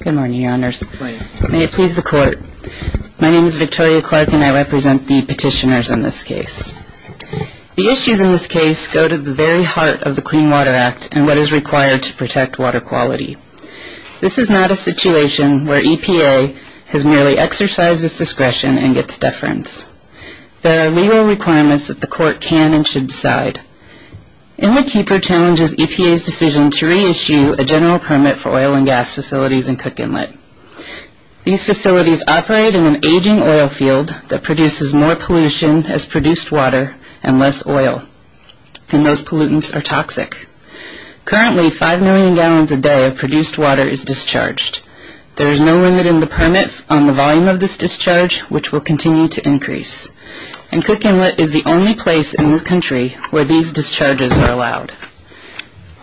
Good morning, Your Honors. May it please the Court. My name is Victoria Clark and I represent the petitioners in this case. The issues in this case go to the very heart of the Clean Water Act and what is required to protect water quality. This is not a situation where EPA has merely exercised its discretion and gets deference. There are legal requirements that the Court can and should decide. Inletkeeper challenges EPA's decision to reissue a general permit for oil and gas facilities in Cook Inlet. These facilities operate in an aging oil field that produces more pollution as produced water and less oil, and those pollutants are toxic. Currently, 5 million gallons a day of produced water is discharged. There is no limit in the permit on the volume of this discharge, which will continue to increase. And Cook Inlet is the only place in the country where these discharges are allowed.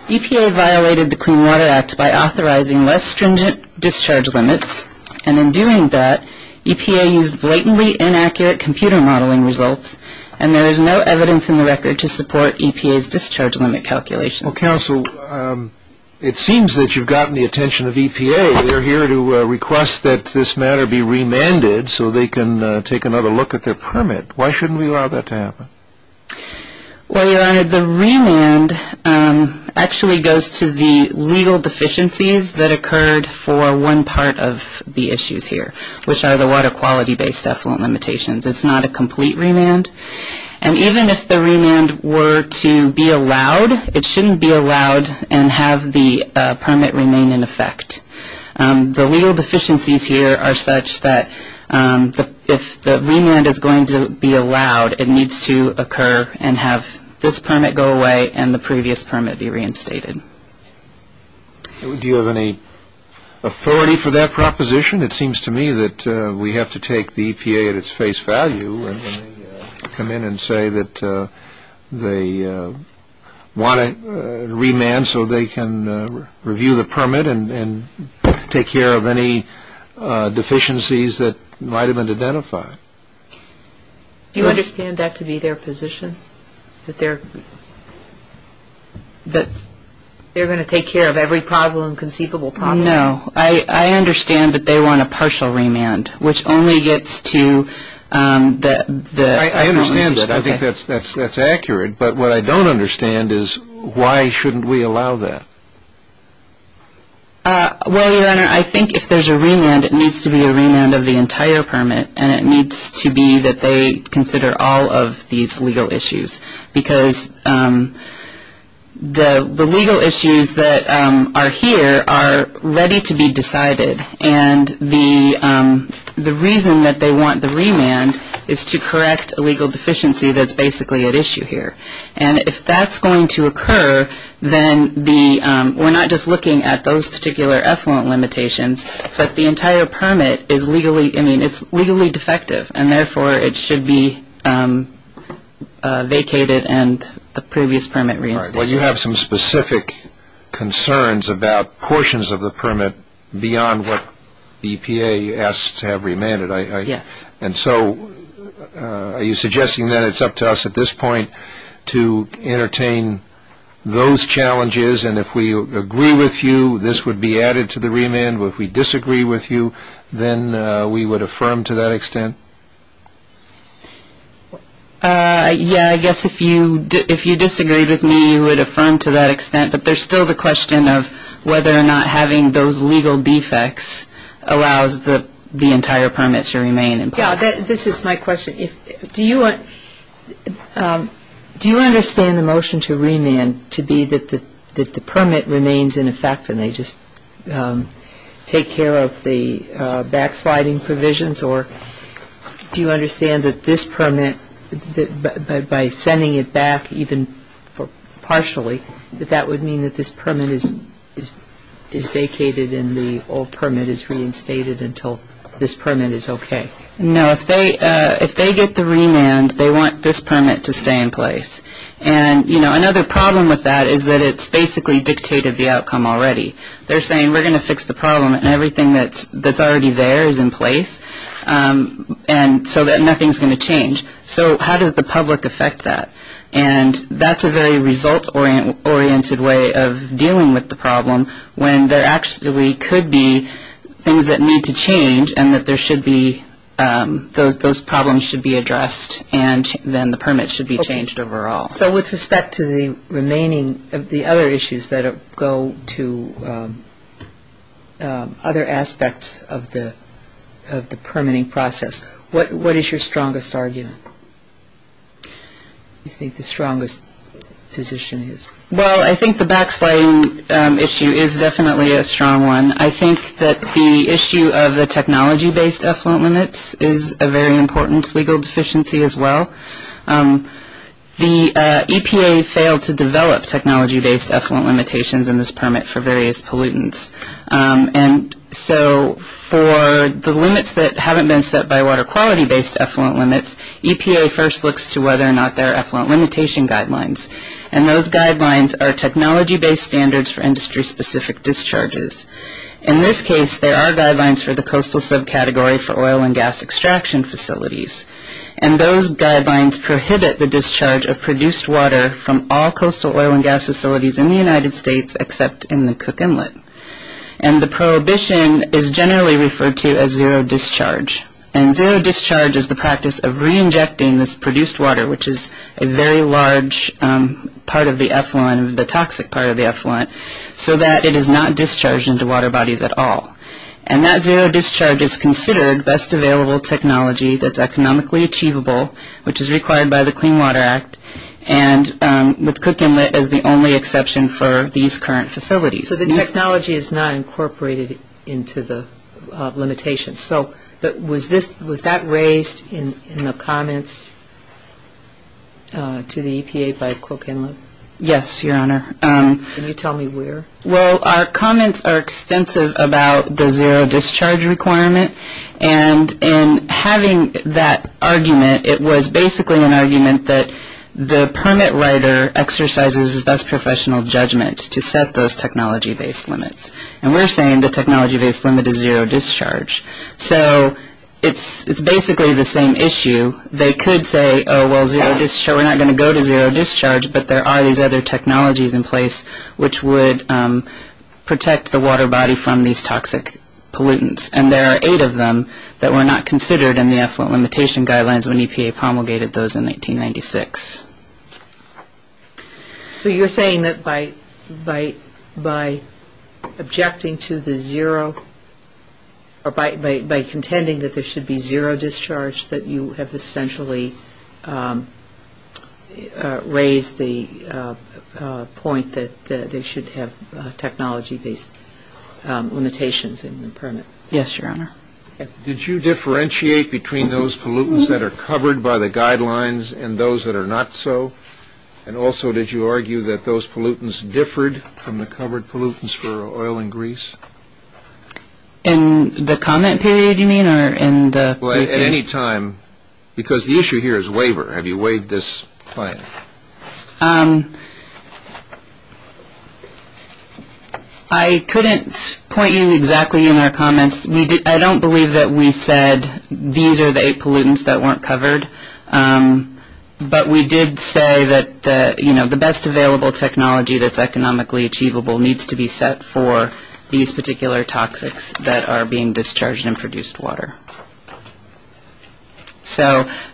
EPA violated the Clean Water Act by authorizing less stringent discharge limits, and in doing that, EPA used blatantly inaccurate computer modeling results, and there is no evidence in the record to support EPA's discharge limit calculations. Well, Counsel, it seems that you've gotten the attention of EPA. They're here to request that this matter be remanded so they can take another look at their permit. Why shouldn't we allow that to happen? Well, Your Honor, the remand actually goes to the legal deficiencies that occurred for one part of the issues here, which are the water quality-based effluent limitations. It's not a complete remand. And even if the remand were to be allowed, it shouldn't be allowed and have the permit remain in effect. The legal deficiencies here are such that if the remand is going to be allowed, it needs to occur and have this permit go away and the previous permit be reinstated. Do you have any authority for that proposition? Your Honor, it seems to me that we have to take the EPA at its face value when they come in and say that they want a remand so they can review the permit and take care of any deficiencies that might have been identified. Do you understand that to be their position, that they're going to take care of every conceivable problem? No. I understand that they want a partial remand, which only gets to the effluent limitations. I understand that. I think that's accurate. But what I don't understand is why shouldn't we allow that? Well, Your Honor, I think if there's a remand, it needs to be a remand of the entire permit, and it needs to be that they consider all of these legal issues. Because the legal issues that are here are ready to be decided, and the reason that they want the remand is to correct a legal deficiency that's basically at issue here. And if that's going to occur, then we're not just looking at those particular effluent limitations, but the entire permit is legally defective, and therefore it should be vacated and the previous permit reinstated. All right. Well, you have some specific concerns about portions of the permit beyond what EPA asks to have remanded. Yes. And so are you suggesting that it's up to us at this point to entertain those challenges, and if we agree with you, this would be added to the remand, but if we disagree with you, then we would affirm to that extent? Yeah, I guess if you disagree with me, you would affirm to that extent. But there's still the question of whether or not having those legal defects allows the entire permit to remain in place. Yeah, this is my question. Do you understand the motion to remand to be that the permit remains in effect and they just take care of the backsliding provisions, or do you understand that this permit, by sending it back even partially, that that would mean that this permit is vacated and the old permit is reinstated until this permit is okay? No, if they get the remand, they want this permit to stay in place. And, you know, another problem with that is that it's basically dictated the outcome already. They're saying we're going to fix the problem, and everything that's already there is in place, and so that nothing's going to change. So how does the public affect that? And that's a very result-oriented way of dealing with the problem when there actually could be things that need to change and that there should be those problems should be addressed, and then the permit should be changed overall. So with respect to the remaining, the other issues that go to other aspects of the permitting process, what is your strongest argument? What do you think the strongest position is? Well, I think the backsliding issue is definitely a strong one. I think that the issue of the technology-based effluent limits is a very important legal deficiency as well. The EPA failed to develop technology-based effluent limitations in this permit for various pollutants, and so for the limits that haven't been set by water quality-based effluent limits, EPA first looks to whether or not there are effluent limitation guidelines, and those guidelines are technology-based standards for industry-specific discharges. In this case, there are guidelines for the coastal subcategory for oil and gas extraction facilities, and those guidelines prohibit the discharge of produced water from all coastal oil and gas facilities in the United States except in the Cook Inlet, and the prohibition is generally referred to as zero discharge, and zero discharge is the practice of reinjecting this produced water, which is a very large part of the effluent, the toxic part of the effluent, so that it is not discharged into water bodies at all, and that zero discharge is considered best available technology that's economically achievable, which is required by the Clean Water Act, and with Cook Inlet as the only exception for these current facilities. So the technology is not incorporated into the limitations. So was that raised in the comments to the EPA by Cook Inlet? Yes, Your Honor. Can you tell me where? Well, our comments are extensive about the zero discharge requirement, and in having that argument, it was basically an argument that the permit writer exercises his best professional judgment to set those technology-based limits, and we're saying the technology-based limit is zero discharge. So it's basically the same issue. They could say, oh, well, we're not going to go to zero discharge, but there are these other technologies in place which would protect the water body from these toxic pollutants, and there are eight of them that were not considered in the effluent limitation guidelines when EPA promulgated those in 1996. So you're saying that by objecting to the zero or by contending that there should be zero discharge, that you have essentially raised the point that they should have technology-based limitations in the permit? Yes, Your Honor. Did you differentiate between those pollutants that are covered by the guidelines and those that are not so? And also, did you argue that those pollutants differed from the covered pollutants for oil and grease? In the comment period, you mean, or in the briefing? Well, at any time, because the issue here is waiver. Have you waived this plan? I couldn't point you exactly in our comments. I don't believe that we said these are the eight pollutants that weren't covered, but we did say that the best available technology that's economically achievable needs to be set for these particular toxics that are being discharged and produced water.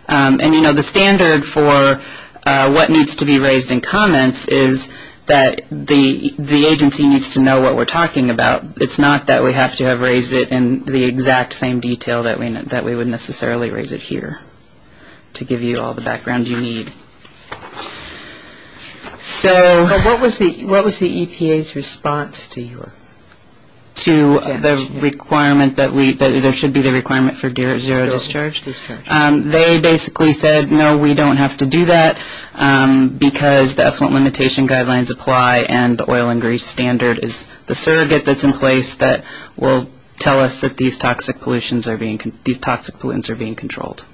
And, you know, the standard for what needs to be raised in comments is that the agency needs to know what we're talking about. It's not that we have to have raised it in the exact same detail that we would necessarily raise it here to give you all the background you need. So what was the EPA's response to the requirement that there should be the requirement for zero discharge? They basically said, no, we don't have to do that because the effluent limitation guidelines apply and the oil and grease standard is the surrogate that's in place that will tell us that these toxic pollutants are being controlled.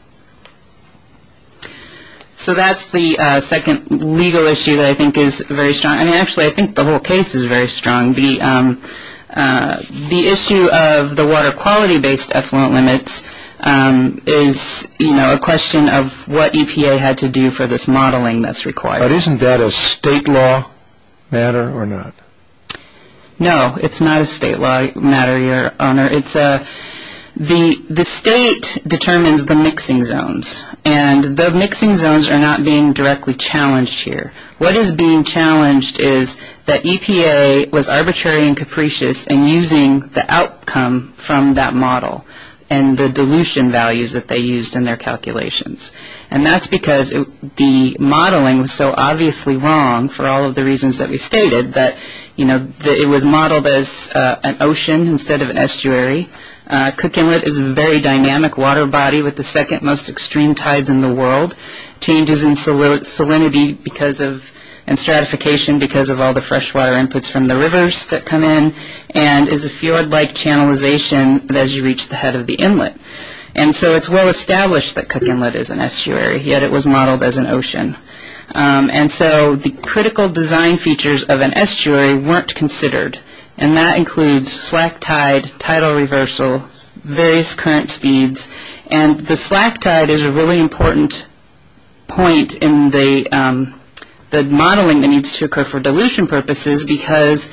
So that's the second legal issue that I think is very strong. And, actually, I think the whole case is very strong. The issue of the water quality-based effluent limits is, you know, a question of what EPA had to do for this modeling that's required. But isn't that a state law matter or not? No, it's not a state law matter, Your Honor. The state determines the mixing zones, and the mixing zones are not being directly challenged here. What is being challenged is that EPA was arbitrary and capricious in using the outcome from that model and the dilution values that they used in their calculations. And that's because the modeling was so obviously wrong for all of the reasons that we stated, that, you know, it was modeled as an ocean instead of an estuary. Cook Inlet is a very dynamic water body with the second most extreme tides in the world. Changes in salinity and stratification because of all the freshwater inputs from the rivers that come in and is a fjord-like channelization as you reach the head of the inlet. And so it's well established that Cook Inlet is an estuary, yet it was modeled as an ocean. And so the critical design features of an estuary weren't considered, and that includes slack tide, tidal reversal, various current speeds. And the slack tide is a really important point in the modeling that needs to occur for dilution purposes because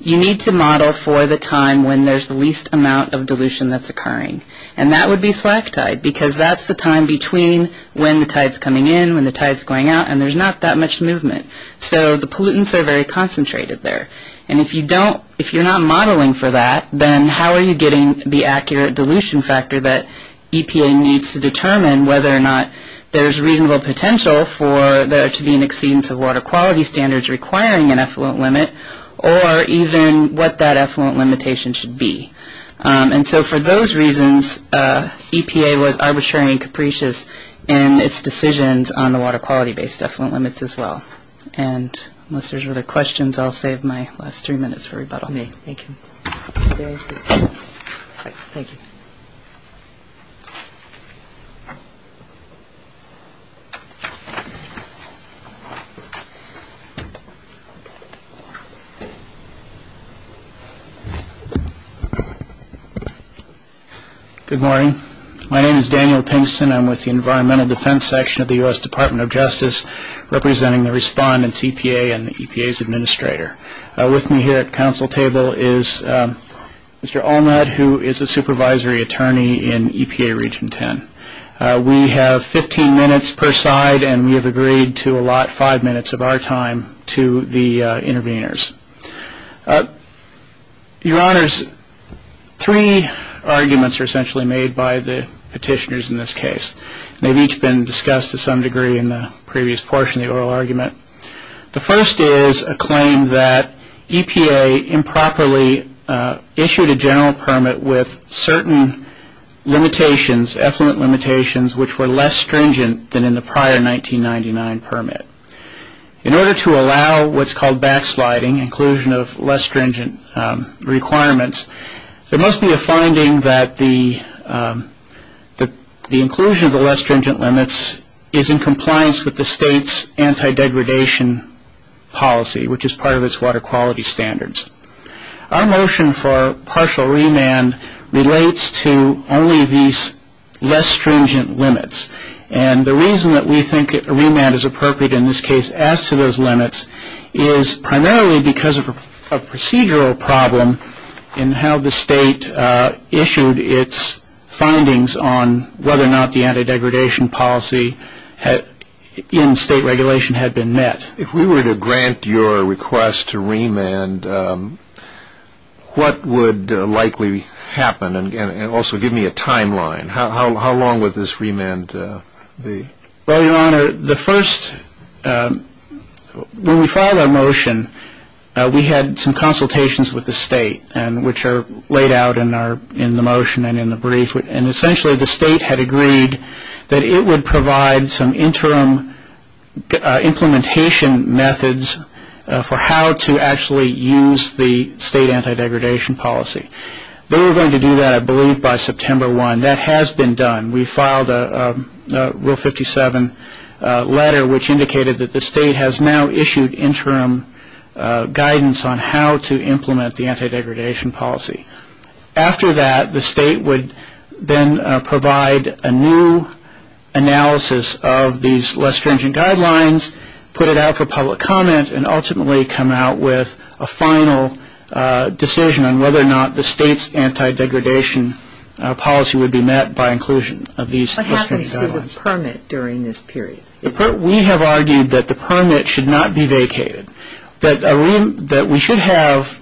you need to model for the time when there's the least amount of dilution that's occurring. And that would be slack tide because that's the time between when the tide's coming in, when the tide's going out, and there's not that much movement. So the pollutants are very concentrated there. And if you don't, if you're not modeling for that, then how are you getting the accurate dilution factor that EPA needs to determine whether or not there's reasonable potential for there to be an exceedance of water quality standards requiring an effluent limit or even what that effluent limitation should be. And so for those reasons, EPA was arbitrary and capricious in its decisions on the water quality-based effluent limits as well. And unless there's other questions, I'll save my last three minutes for rebuttal. Thank you. Good morning. My name is Daniel Pinkston. I'm with the Environmental Defense Section of the U.S. Department of Justice, representing the respondent's EPA and the EPA's administrator. With me here at the council table is Mr. Olmert, who is a supervisory attorney in EPA Region 10. We have 15 minutes per side, and we have agreed to allot five minutes of our time to the interveners. Your Honors, three arguments are essentially made by the petitioners in this case. They've each been discussed to some degree in the previous portion of the oral argument. The first is a claim that EPA improperly issued a general permit with certain limitations, effluent limitations, which were less stringent than in the prior 1999 permit. In order to allow what's called backsliding, inclusion of less stringent requirements, there must be a finding that the inclusion of the less stringent limits is in compliance with the state's anti-degradation policy, which is part of its water quality standards. Our motion for partial remand relates to only these less stringent limits, and the reason that we think a remand is appropriate in this case as to those limits is primarily because of a procedural problem in how the state issued its findings on whether or not the anti-degradation policy in state regulation had been met. If we were to grant your request to remand, what would likely happen? And also give me a timeline. How long would this remand be? Well, Your Honor, when we filed our motion, we had some consultations with the state, which are laid out in the motion and in the brief. And essentially the state had agreed that it would provide some interim implementation methods for how to actually use the state anti-degradation policy. They were going to do that, I believe, by September 1. That has been done. We filed a Rule 57 letter, which indicated that the state has now issued interim guidance on how to implement the anti-degradation policy. After that, the state would then provide a new analysis of these less stringent guidelines, put it out for public comment, and ultimately come out with a final decision on whether or not the state's anti-degradation policy would be met by inclusion of these less stringent guidelines. What happens to the permit during this period? We have argued that the permit should not be vacated. That we should have,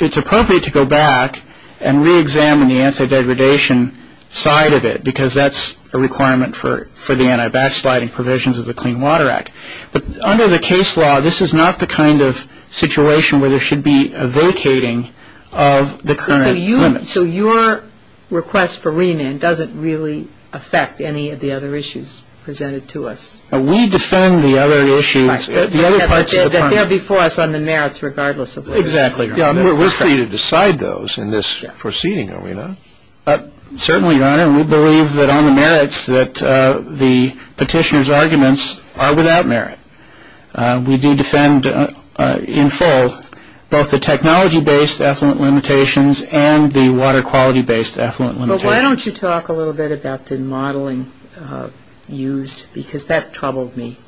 it's appropriate to go back and re-examine the anti-degradation side of it because that's a requirement for the anti-backsliding provisions of the Clean Water Act. But under the case law, this is not the kind of situation where there should be a vacating of the current limit. So your request for remand doesn't really affect any of the other issues presented to us? We defend the other issues, the other parts of the permit. But they're before us on the merits, regardless of whether or not. Exactly. We're free to decide those in this proceeding, are we not? Certainly, Your Honor. We believe that on the merits that the petitioner's arguments are without merit. We do defend in full both the technology-based effluent limitations and the water quality-based effluent limitations. Well, why don't you talk a little bit about the modeling used? Because that troubled me.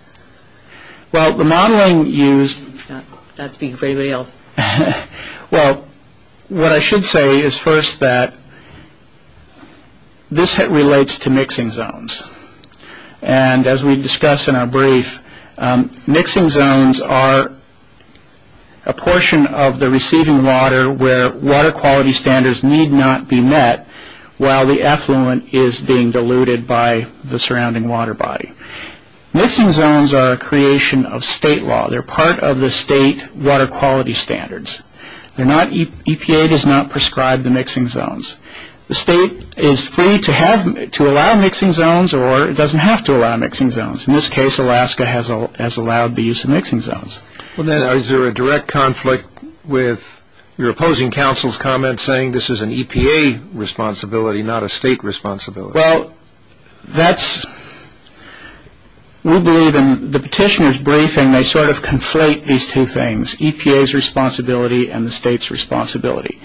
Well, the modeling used- I'm not speaking for anybody else. Well, what I should say is first that this relates to mixing zones. And as we discussed in our brief, mixing zones are a portion of the receiving water where water quality standards need not be met while the effluent is being diluted by the surrounding water body. Mixing zones are a creation of state law. They're part of the state water quality standards. EPA does not prescribe the mixing zones. The state is free to allow mixing zones or it doesn't have to allow mixing zones. In this case, Alaska has allowed the use of mixing zones. Well, then, is there a direct conflict with your opposing counsel's comment saying this is an EPA responsibility, not a state responsibility? Well, that's-we believe in the petitioner's briefing they sort of conflate these two things, EPA's responsibility and the state's responsibility.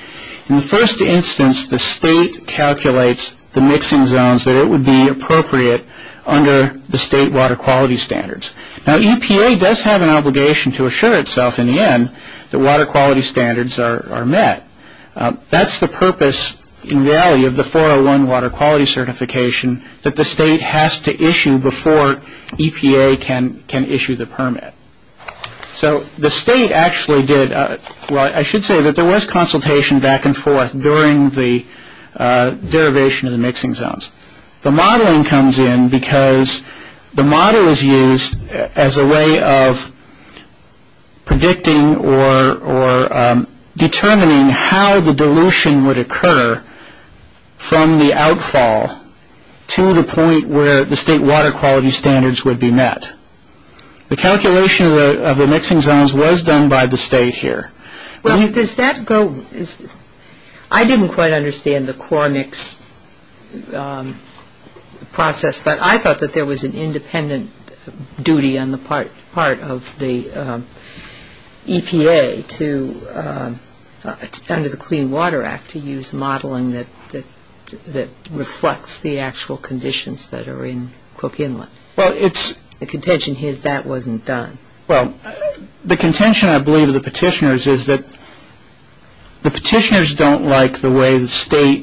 In the first instance, the state calculates the mixing zones that it would be appropriate under the state water quality standards. Now, EPA does have an obligation to assure itself in the end that water quality standards are met. That's the purpose, in reality, of the 401 water quality certification that the state has to issue before EPA can issue the permit. So the state actually did-well, I should say that there was consultation back and forth during the derivation of the mixing zones. The modeling comes in because the model is used as a way of predicting or determining how the dilution would occur from the outfall to the point where the state water quality standards would be met. The calculation of the mixing zones was done by the state here. Well, does that go-I didn't quite understand the core mix process, but I thought that there was an independent duty on the part of the EPA to- under the Clean Water Act to use modeling that reflects the actual conditions that are in Cook Inlet. Well, it's- The contention is that wasn't done. Well, the contention, I believe, of the petitioners is that the petitioners don't like the way the state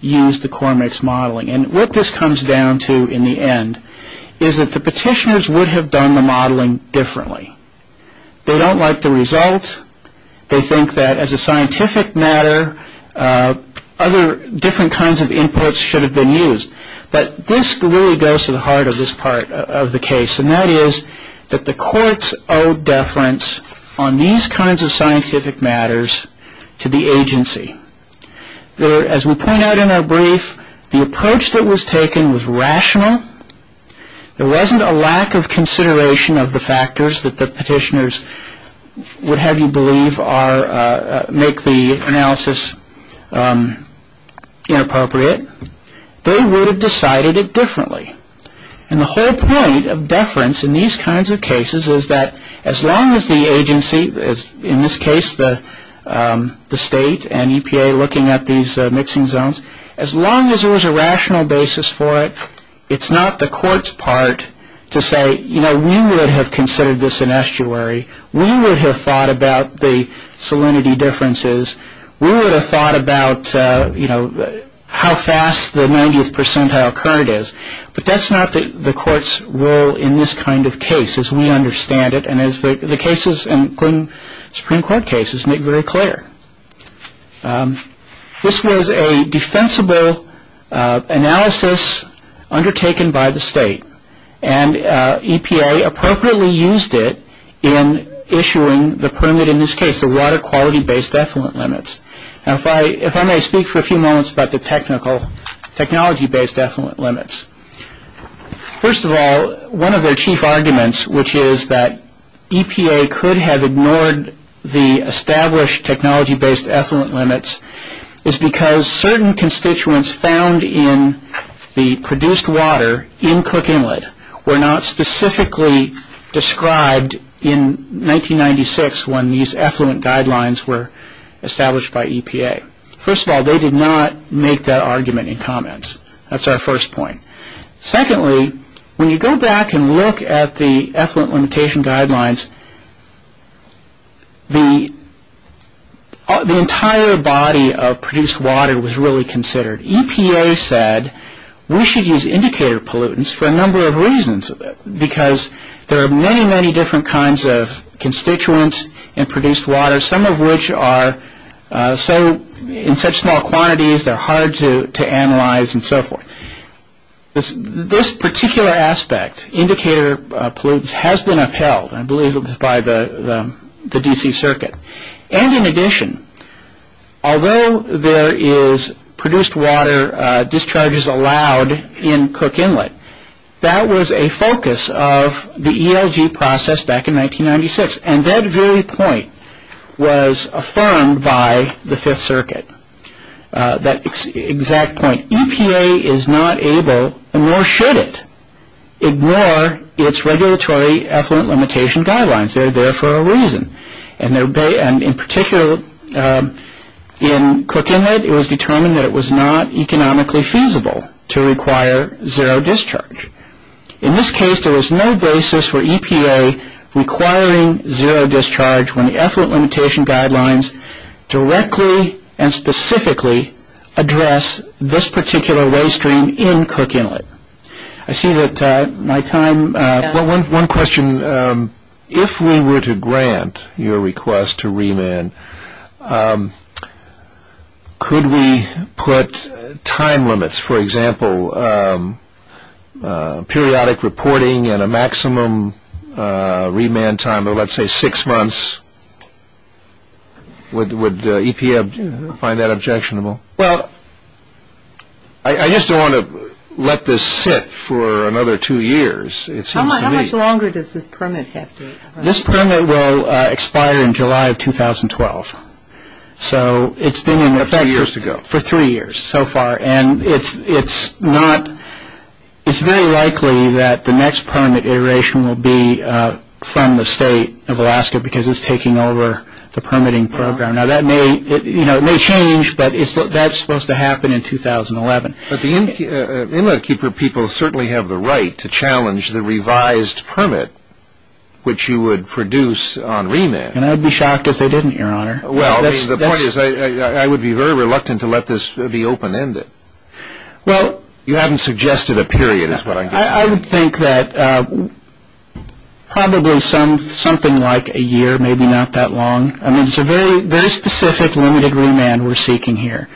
used the core mix modeling. And what this comes down to in the end is that the petitioners would have done the modeling differently. They don't like the result. They think that as a scientific matter, other different kinds of inputs should have been used. But this really goes to the heart of this part of the case, and that is that the courts owe deference on these kinds of scientific matters to the agency. As we point out in our brief, the approach that was taken was rational. There wasn't a lack of consideration of the factors that the petitioners would have you believe are- make the analysis inappropriate. They would have decided it differently. And the whole point of deference in these kinds of cases is that as long as the agency- in this case, the state and EPA looking at these mixing zones- as long as there was a rational basis for it, it's not the court's part to say, you know, we would have considered this an estuary. We would have thought about the salinity differences. We would have thought about, you know, how fast the 90th percentile current is. But that's not the court's role in this kind of case, as we understand it, and as the cases, including Supreme Court cases, make very clear. This was a defensible analysis undertaken by the state, and EPA appropriately used it in issuing the permit- in this case, the water quality-based effluent limits. Now if I may speak for a few moments about the technology-based effluent limits. First of all, one of their chief arguments, which is that EPA could have ignored the established technology-based effluent limits, is because certain constituents found in the produced water in Cook Inlet were not specifically described in 1996 when these effluent guidelines were established by EPA. First of all, they did not make that argument in comments. That's our first point. Secondly, when you go back and look at the effluent limitation guidelines, the entire body of produced water was really considered. EPA said, we should use indicator pollutants for a number of reasons, because there are many, many different kinds of constituents in produced water, some of which are in such small quantities they're hard to analyze and so forth. This particular aspect, indicator pollutants, has been upheld, I believe it was by the D.C. Circuit. And in addition, although there is produced water discharges allowed in Cook Inlet, that was a focus of the ELG process back in 1996. And that very point was affirmed by the Fifth Circuit, that exact point. EPA is not able, nor should it, ignore its regulatory effluent limitation guidelines. They're there for a reason. And in particular, in Cook Inlet, it was determined that it was not economically feasible to require zero discharge. In this case, there was no basis for EPA requiring zero discharge when the effluent limitation guidelines directly and specifically address this particular waste stream in Cook Inlet. I see that my time... Well, one question, if we were to grant your request to remand, could we put time limits, for example, periodic reporting and a maximum remand time of, let's say, six months? Would EPA find that objectionable? Well, I just don't want to let this sit for another two years, it seems to me. How much longer does this permit have to expire? This permit will expire in July of 2012. So it's been in effect for three years so far. And it's very likely that the next permit iteration will be from the State of Alaska because it's taking over the permitting program. Now, that may change, but that's supposed to happen in 2011. But the Inletkeeper people certainly have the right to challenge the revised permit, which you would produce on remand. And I would be shocked if they didn't, Your Honor. Well, the point is, I would be very reluctant to let this be open-ended. Well... You haven't suggested a period is what I'm guessing. I would think that probably something like a year, maybe not that long. I mean, it's a very specific limited remand we're seeking here,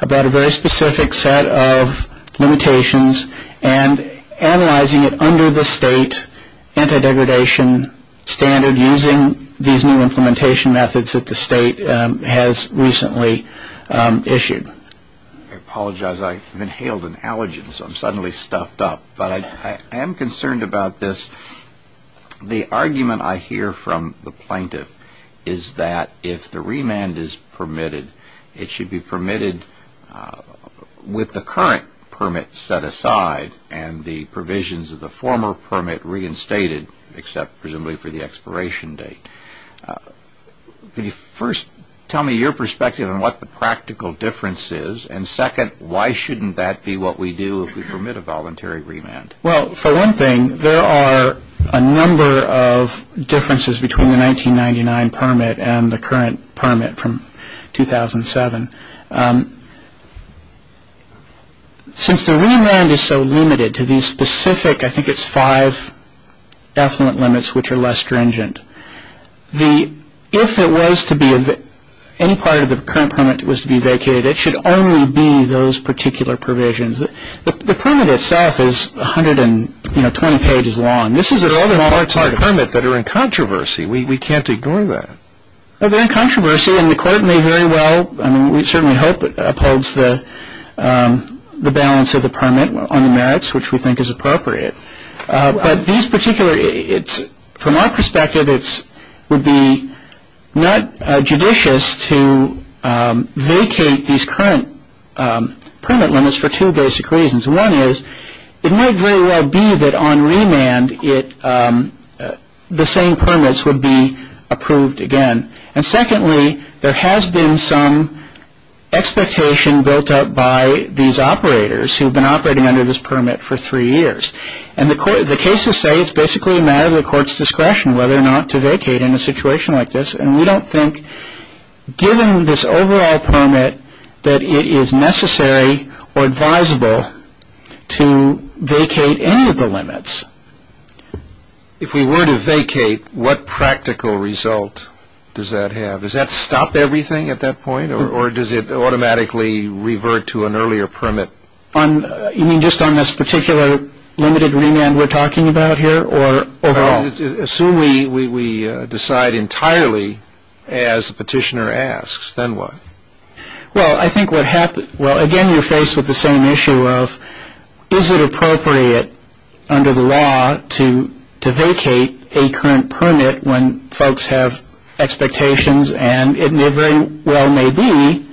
about a very specific set of limitations and analyzing it under the state anti-degradation standard using these new implementation methods that the state has recently issued. I apologize. I've inhaled an allergen, so I'm suddenly stuffed up. But I am concerned about this. The argument I hear from the plaintiff is that if the remand is permitted, it should be permitted with the current permit set aside and the provisions of the former permit reinstated, except presumably for the expiration date. Could you first tell me your perspective on what the practical difference is? And second, why shouldn't that be what we do if we permit a voluntary remand? Well, for one thing, there are a number of differences between the 1999 permit and the current permit from 2007. Since the remand is so limited to these specific, I think it's five effluent limits which are less stringent, if any part of the current permit was to be vacated, it should only be those particular provisions. The permit itself is 120 pages long. This is a smaller target. There are other parts of the permit that are in controversy. We can't ignore that. They're in controversy, and the court may very well, I mean we certainly hope it upholds the balance of the permit on the merits, which we think is appropriate. But these particular, from our perspective, would be not judicious to vacate these current permit limits for two basic reasons. One is it might very well be that on remand the same permits would be approved again. And secondly, there has been some expectation built up by these operators who have been operating under this permit for three years. And the cases say it's basically a matter of the court's discretion whether or not to vacate in a situation like this. And we don't think, given this overall permit, that it is necessary or advisable to vacate any of the limits. If we were to vacate, what practical result does that have? Does that stop everything at that point, or does it automatically revert to an earlier permit? You mean just on this particular limited remand we're talking about here, or overall? Assume we decide entirely as the petitioner asks, then what? Well, I think what happens, well, again you're faced with the same issue of is it appropriate under the law to vacate a current permit when folks have expectations and it very well may be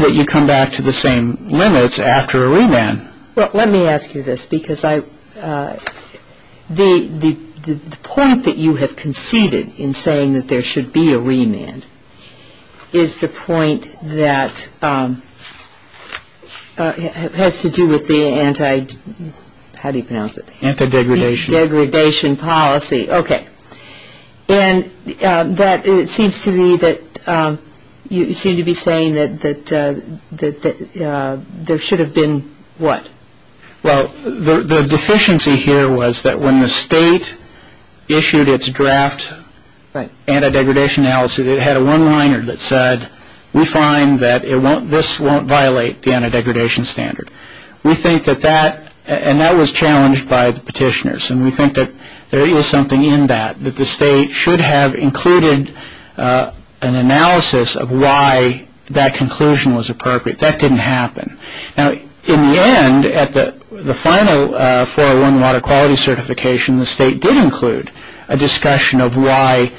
that you come back to the same limits after a remand. Well, let me ask you this, because the point that you have conceded in saying that there should be a remand is the point that has to do with the anti- how do you pronounce it? Anti-degradation. Degradation policy. And it seems to me that you seem to be saying that there should have been what? Well, the deficiency here was that when the state issued its draft anti-degradation analysis, it had a one-liner that said we find that this won't violate the anti-degradation standard. We think that that, and that was challenged by the petitioners, and we think that there is something in that, that the state should have included an analysis of why that conclusion was appropriate. That didn't happen. Now, in the end, at the final 401 water quality certification, the state did include a discussion of why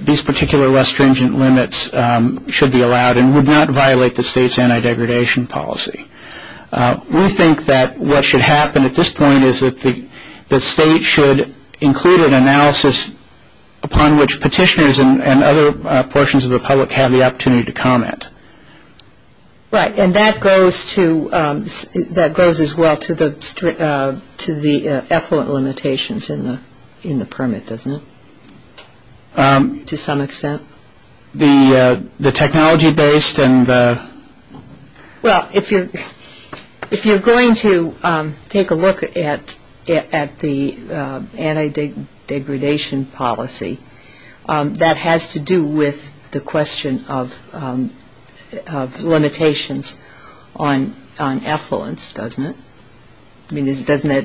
these particular less stringent limits should be allowed and would not violate the state's anti-degradation policy. We think that what should happen at this point is that the state should include an analysis upon which petitioners and other portions of the public have the opportunity to comment. Right. And that goes as well to the effluent limitations in the permit, doesn't it, to some extent? The technology-based and the- Well, if you're going to take a look at the anti-degradation policy, that has to do with the question of limitations on effluents, doesn't it? I mean, isn't that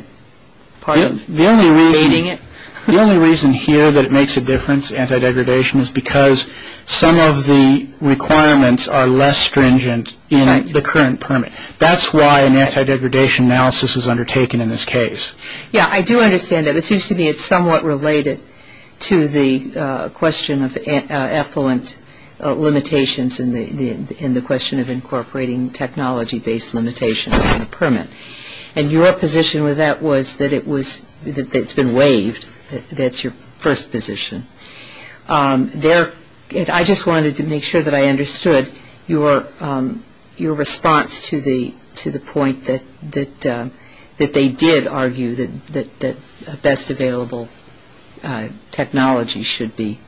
part of creating it? The only reason here that it makes a difference, anti-degradation, is because some of the requirements are less stringent in the current permit. That's why an anti-degradation analysis was undertaken in this case. Yeah, I do understand that. It seems to me it's somewhat related to the question of effluent limitations and the question of incorporating technology-based limitations in the permit. And your position with that was that it's been waived. That's your first position. I just wanted to make sure that I understood your response to the point that they did argue that a best available technology should be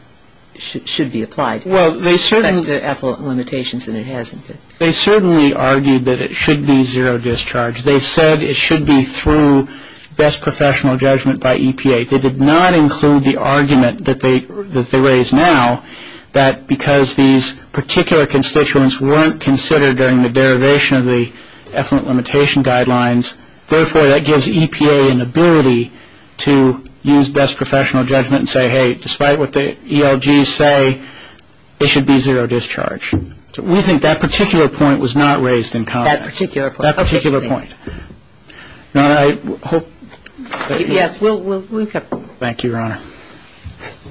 applied. Well, they certainly- Except for the effluent limitations, and it hasn't been. They certainly argued that it should be zero discharge. They said it should be through best professional judgment by EPA. They did not include the argument that they raised now that because these particular constituents weren't considered during the derivation of the effluent limitation guidelines, therefore that gives EPA an ability to use best professional judgment and say, hey, despite what the ELGs say, it should be zero discharge. We think that particular point was not raised in comment. That particular point. That particular point. Your Honor, I hope- Yes, we'll- Thank you, Your Honor.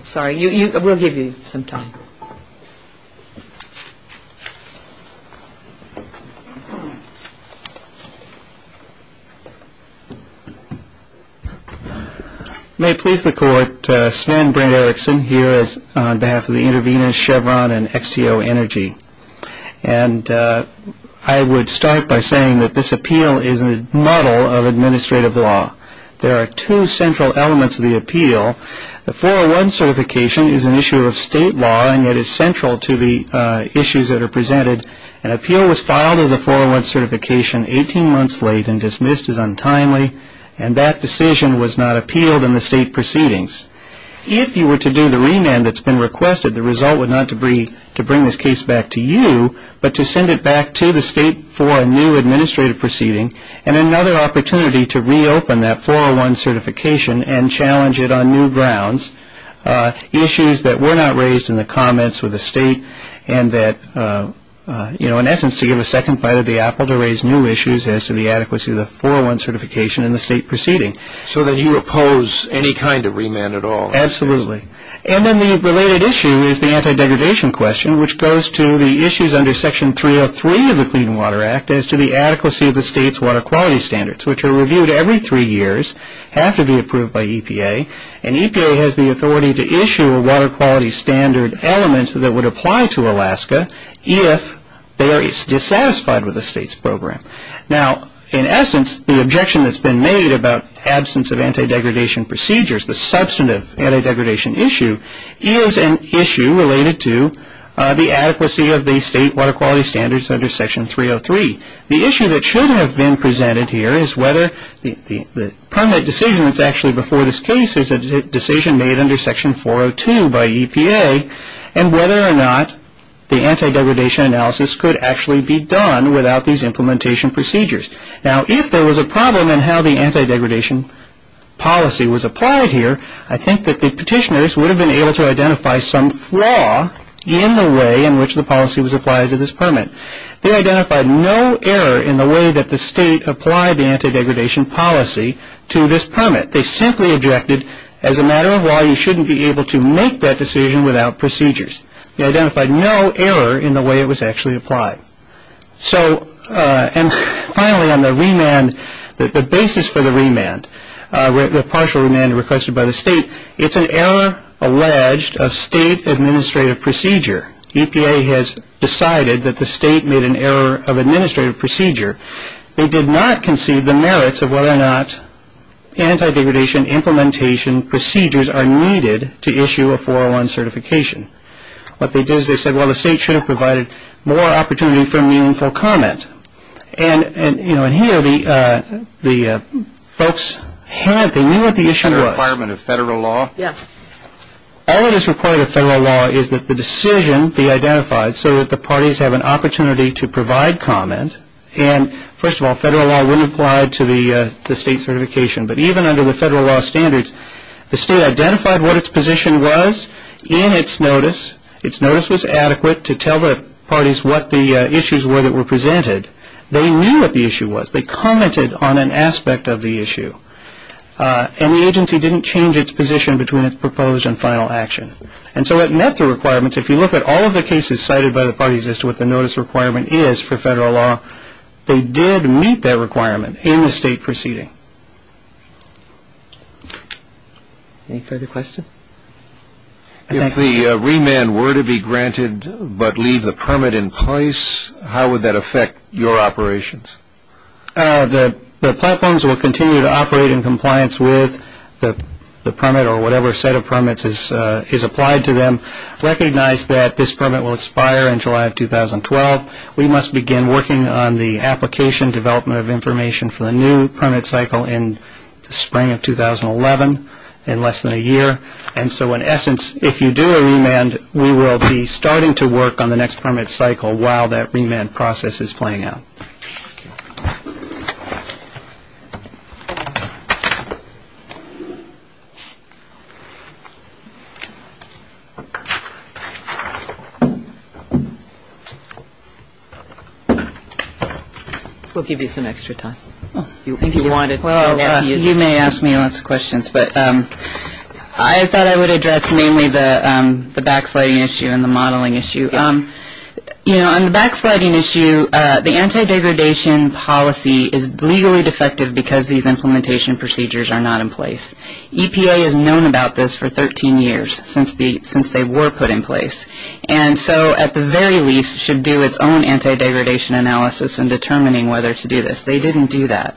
Sorry. We'll give you some time. May it please the Court, Sven Brinderiksen here on behalf of the intervenors Chevron and XTO Energy. And I would start by saying that this appeal is a model of administrative law. There are two central elements of the appeal. The 401 certification is an issue of state law, and it is central to the issues that are presented. An appeal was filed of the 401 certification 18 months late and dismissed as untimely, and that decision was not appealed in the state proceedings. If you were to do the remand that's been requested, the result would not be to bring this case back to you, but to send it back to the state for a new administrative proceeding and another opportunity to reopen that 401 certification and challenge it on new grounds, issues that were not raised in the comments with the state, and that, you know, in essence to give a second bite of the apple to raise new issues as to the adequacy of the 401 certification in the state proceeding. So that you oppose any kind of remand at all? Absolutely. And then the related issue is the anti-degradation question, which goes to the issues under Section 303 of the Clean Water Act as to the adequacy of the state's water quality standards, which are reviewed every three years, have to be approved by EPA, and EPA has the authority to issue a water quality standard element that would apply to Alaska if they are dissatisfied with the state's program. Now, in essence, the objection that's been made about absence of anti-degradation procedures, the substantive anti-degradation issue, is an issue related to the adequacy of the state water quality standards under Section 303. The issue that should have been presented here is whether the permanent decision that's actually before this case is a decision made under Section 402 by EPA, and whether or not the anti-degradation analysis could actually be done without these implementation procedures. Now, if there was a problem in how the anti-degradation policy was applied here, I think that the petitioners would have been able to identify some flaw in the way in which the policy was applied to this permit. They identified no error in the way that the state applied the anti-degradation policy to this permit. They simply objected, as a matter of law, you shouldn't be able to make that decision without procedures. They identified no error in the way it was actually applied. Finally, on the remand, the basis for the remand, the partial remand requested by the state, it's an error alleged of state administrative procedure. EPA has decided that the state made an error of administrative procedure. They did not concede the merits of whether or not anti-degradation implementation procedures are needed to issue a 401 certification. What they did is they said, well, the state should have provided more opportunity for meaningful comment. And, you know, and here the folks have, they knew what the issue was. Is there a requirement of federal law? Yeah. All that is required of federal law is that the decision be identified so that the parties have an opportunity to provide comment. And, first of all, federal law wouldn't apply to the state certification. But even under the federal law standards, the state identified what its position was in its notice, its notice was adequate to tell the parties what the issues were that were presented. They knew what the issue was. They commented on an aspect of the issue. And the agency didn't change its position between its proposed and final action. And so it met the requirements. If you look at all of the cases cited by the parties as to what the notice requirement is for federal law, they did meet that requirement in the state proceeding. Any further questions? If the remand were to be granted but leave the permit in place, how would that affect your operations? The platforms will continue to operate in compliance with the permit or whatever set of permits is applied to them. Recognize that this permit will expire in July of 2012. We must begin working on the application development of information for the new permit cycle in the spring of 2011 in less than a year. And so, in essence, if you do a remand, we will be starting to work on the next permit cycle while that remand process is playing out. We'll give you some extra time. Well, you may ask me lots of questions, but I thought I would address mainly the backsliding issue and the modeling issue. You know, on the backsliding issue, the anti-degradation policy is legally defective because these implementation procedures are not in place. EPA has known about this for 13 years since they were put in place. And so, at the very least, should do its own anti-degradation analysis in determining whether to do this. They didn't do that.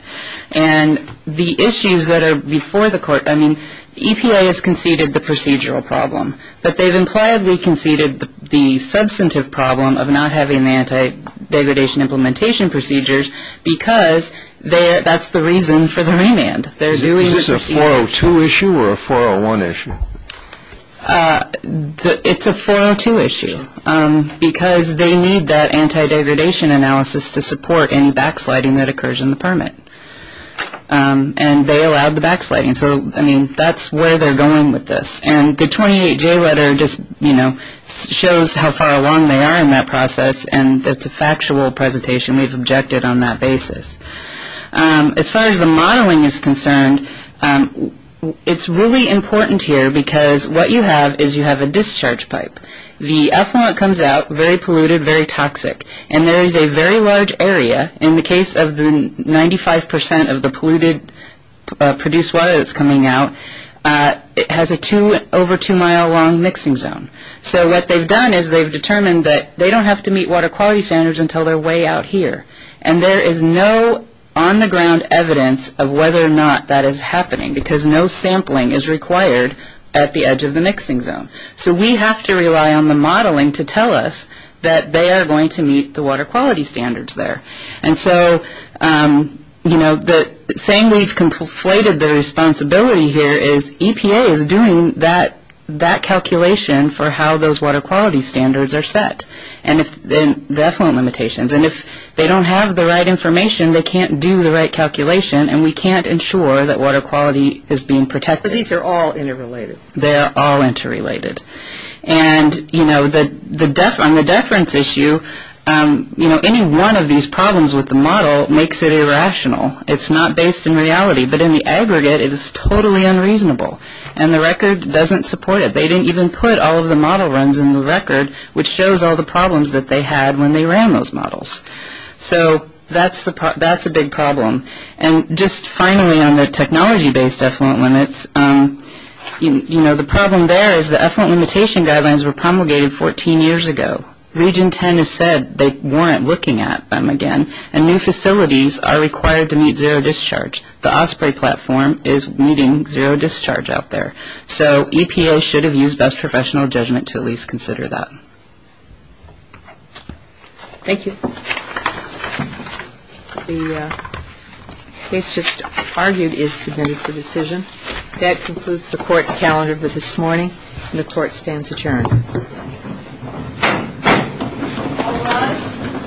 And the issues that are before the court, I mean, EPA has conceded the procedural problem, but they've impliedly conceded the substantive problem of not having the anti-degradation implementation procedures because that's the reason for the remand. Is this a 402 issue or a 401 issue? It's a 402 issue because they need that anti-degradation analysis to support any backsliding that occurs in the permit. And they allowed the backsliding. So, I mean, that's where they're going with this. And the 28J letter just, you know, shows how far along they are in that process, and it's a factual presentation. We've objected on that basis. As far as the modeling is concerned, it's really important here because what you have is you have a discharge pipe. The effluent comes out very polluted, very toxic. And there is a very large area. In the case of the 95% of the polluted produced water that's coming out, it has an over 2-mile long mixing zone. So what they've done is they've determined that they don't have to meet water quality standards until they're way out here. And there is no on-the-ground evidence of whether or not that is happening because no sampling is required at the edge of the mixing zone. So we have to rely on the modeling to tell us that they are going to meet the water quality standards there. And so, you know, saying we've conflated the responsibility here is EPA is doing that calculation for how those water quality standards are set and the effluent limitations. And if they don't have the right information, they can't do the right calculation. And we can't ensure that water quality is being protected. But these are all interrelated. They are all interrelated. And, you know, on the deference issue, you know, any one of these problems with the model makes it irrational. It's not based in reality. But in the aggregate, it is totally unreasonable. And the record doesn't support it. They didn't even put all of the model runs in the record, which shows all the problems that they had when they ran those models. So that's a big problem. And just finally on the technology-based effluent limits, you know, the problem there is the effluent limitation guidelines were promulgated 14 years ago. Region 10 has said they weren't looking at them again. And new facilities are required to meet zero discharge. The Osprey platform is meeting zero discharge out there. So EPA should have used best professional judgment to at least consider that. Thank you. The case just argued is submitted for decision. That concludes the court's calendar for this morning. And the court stands adjourned.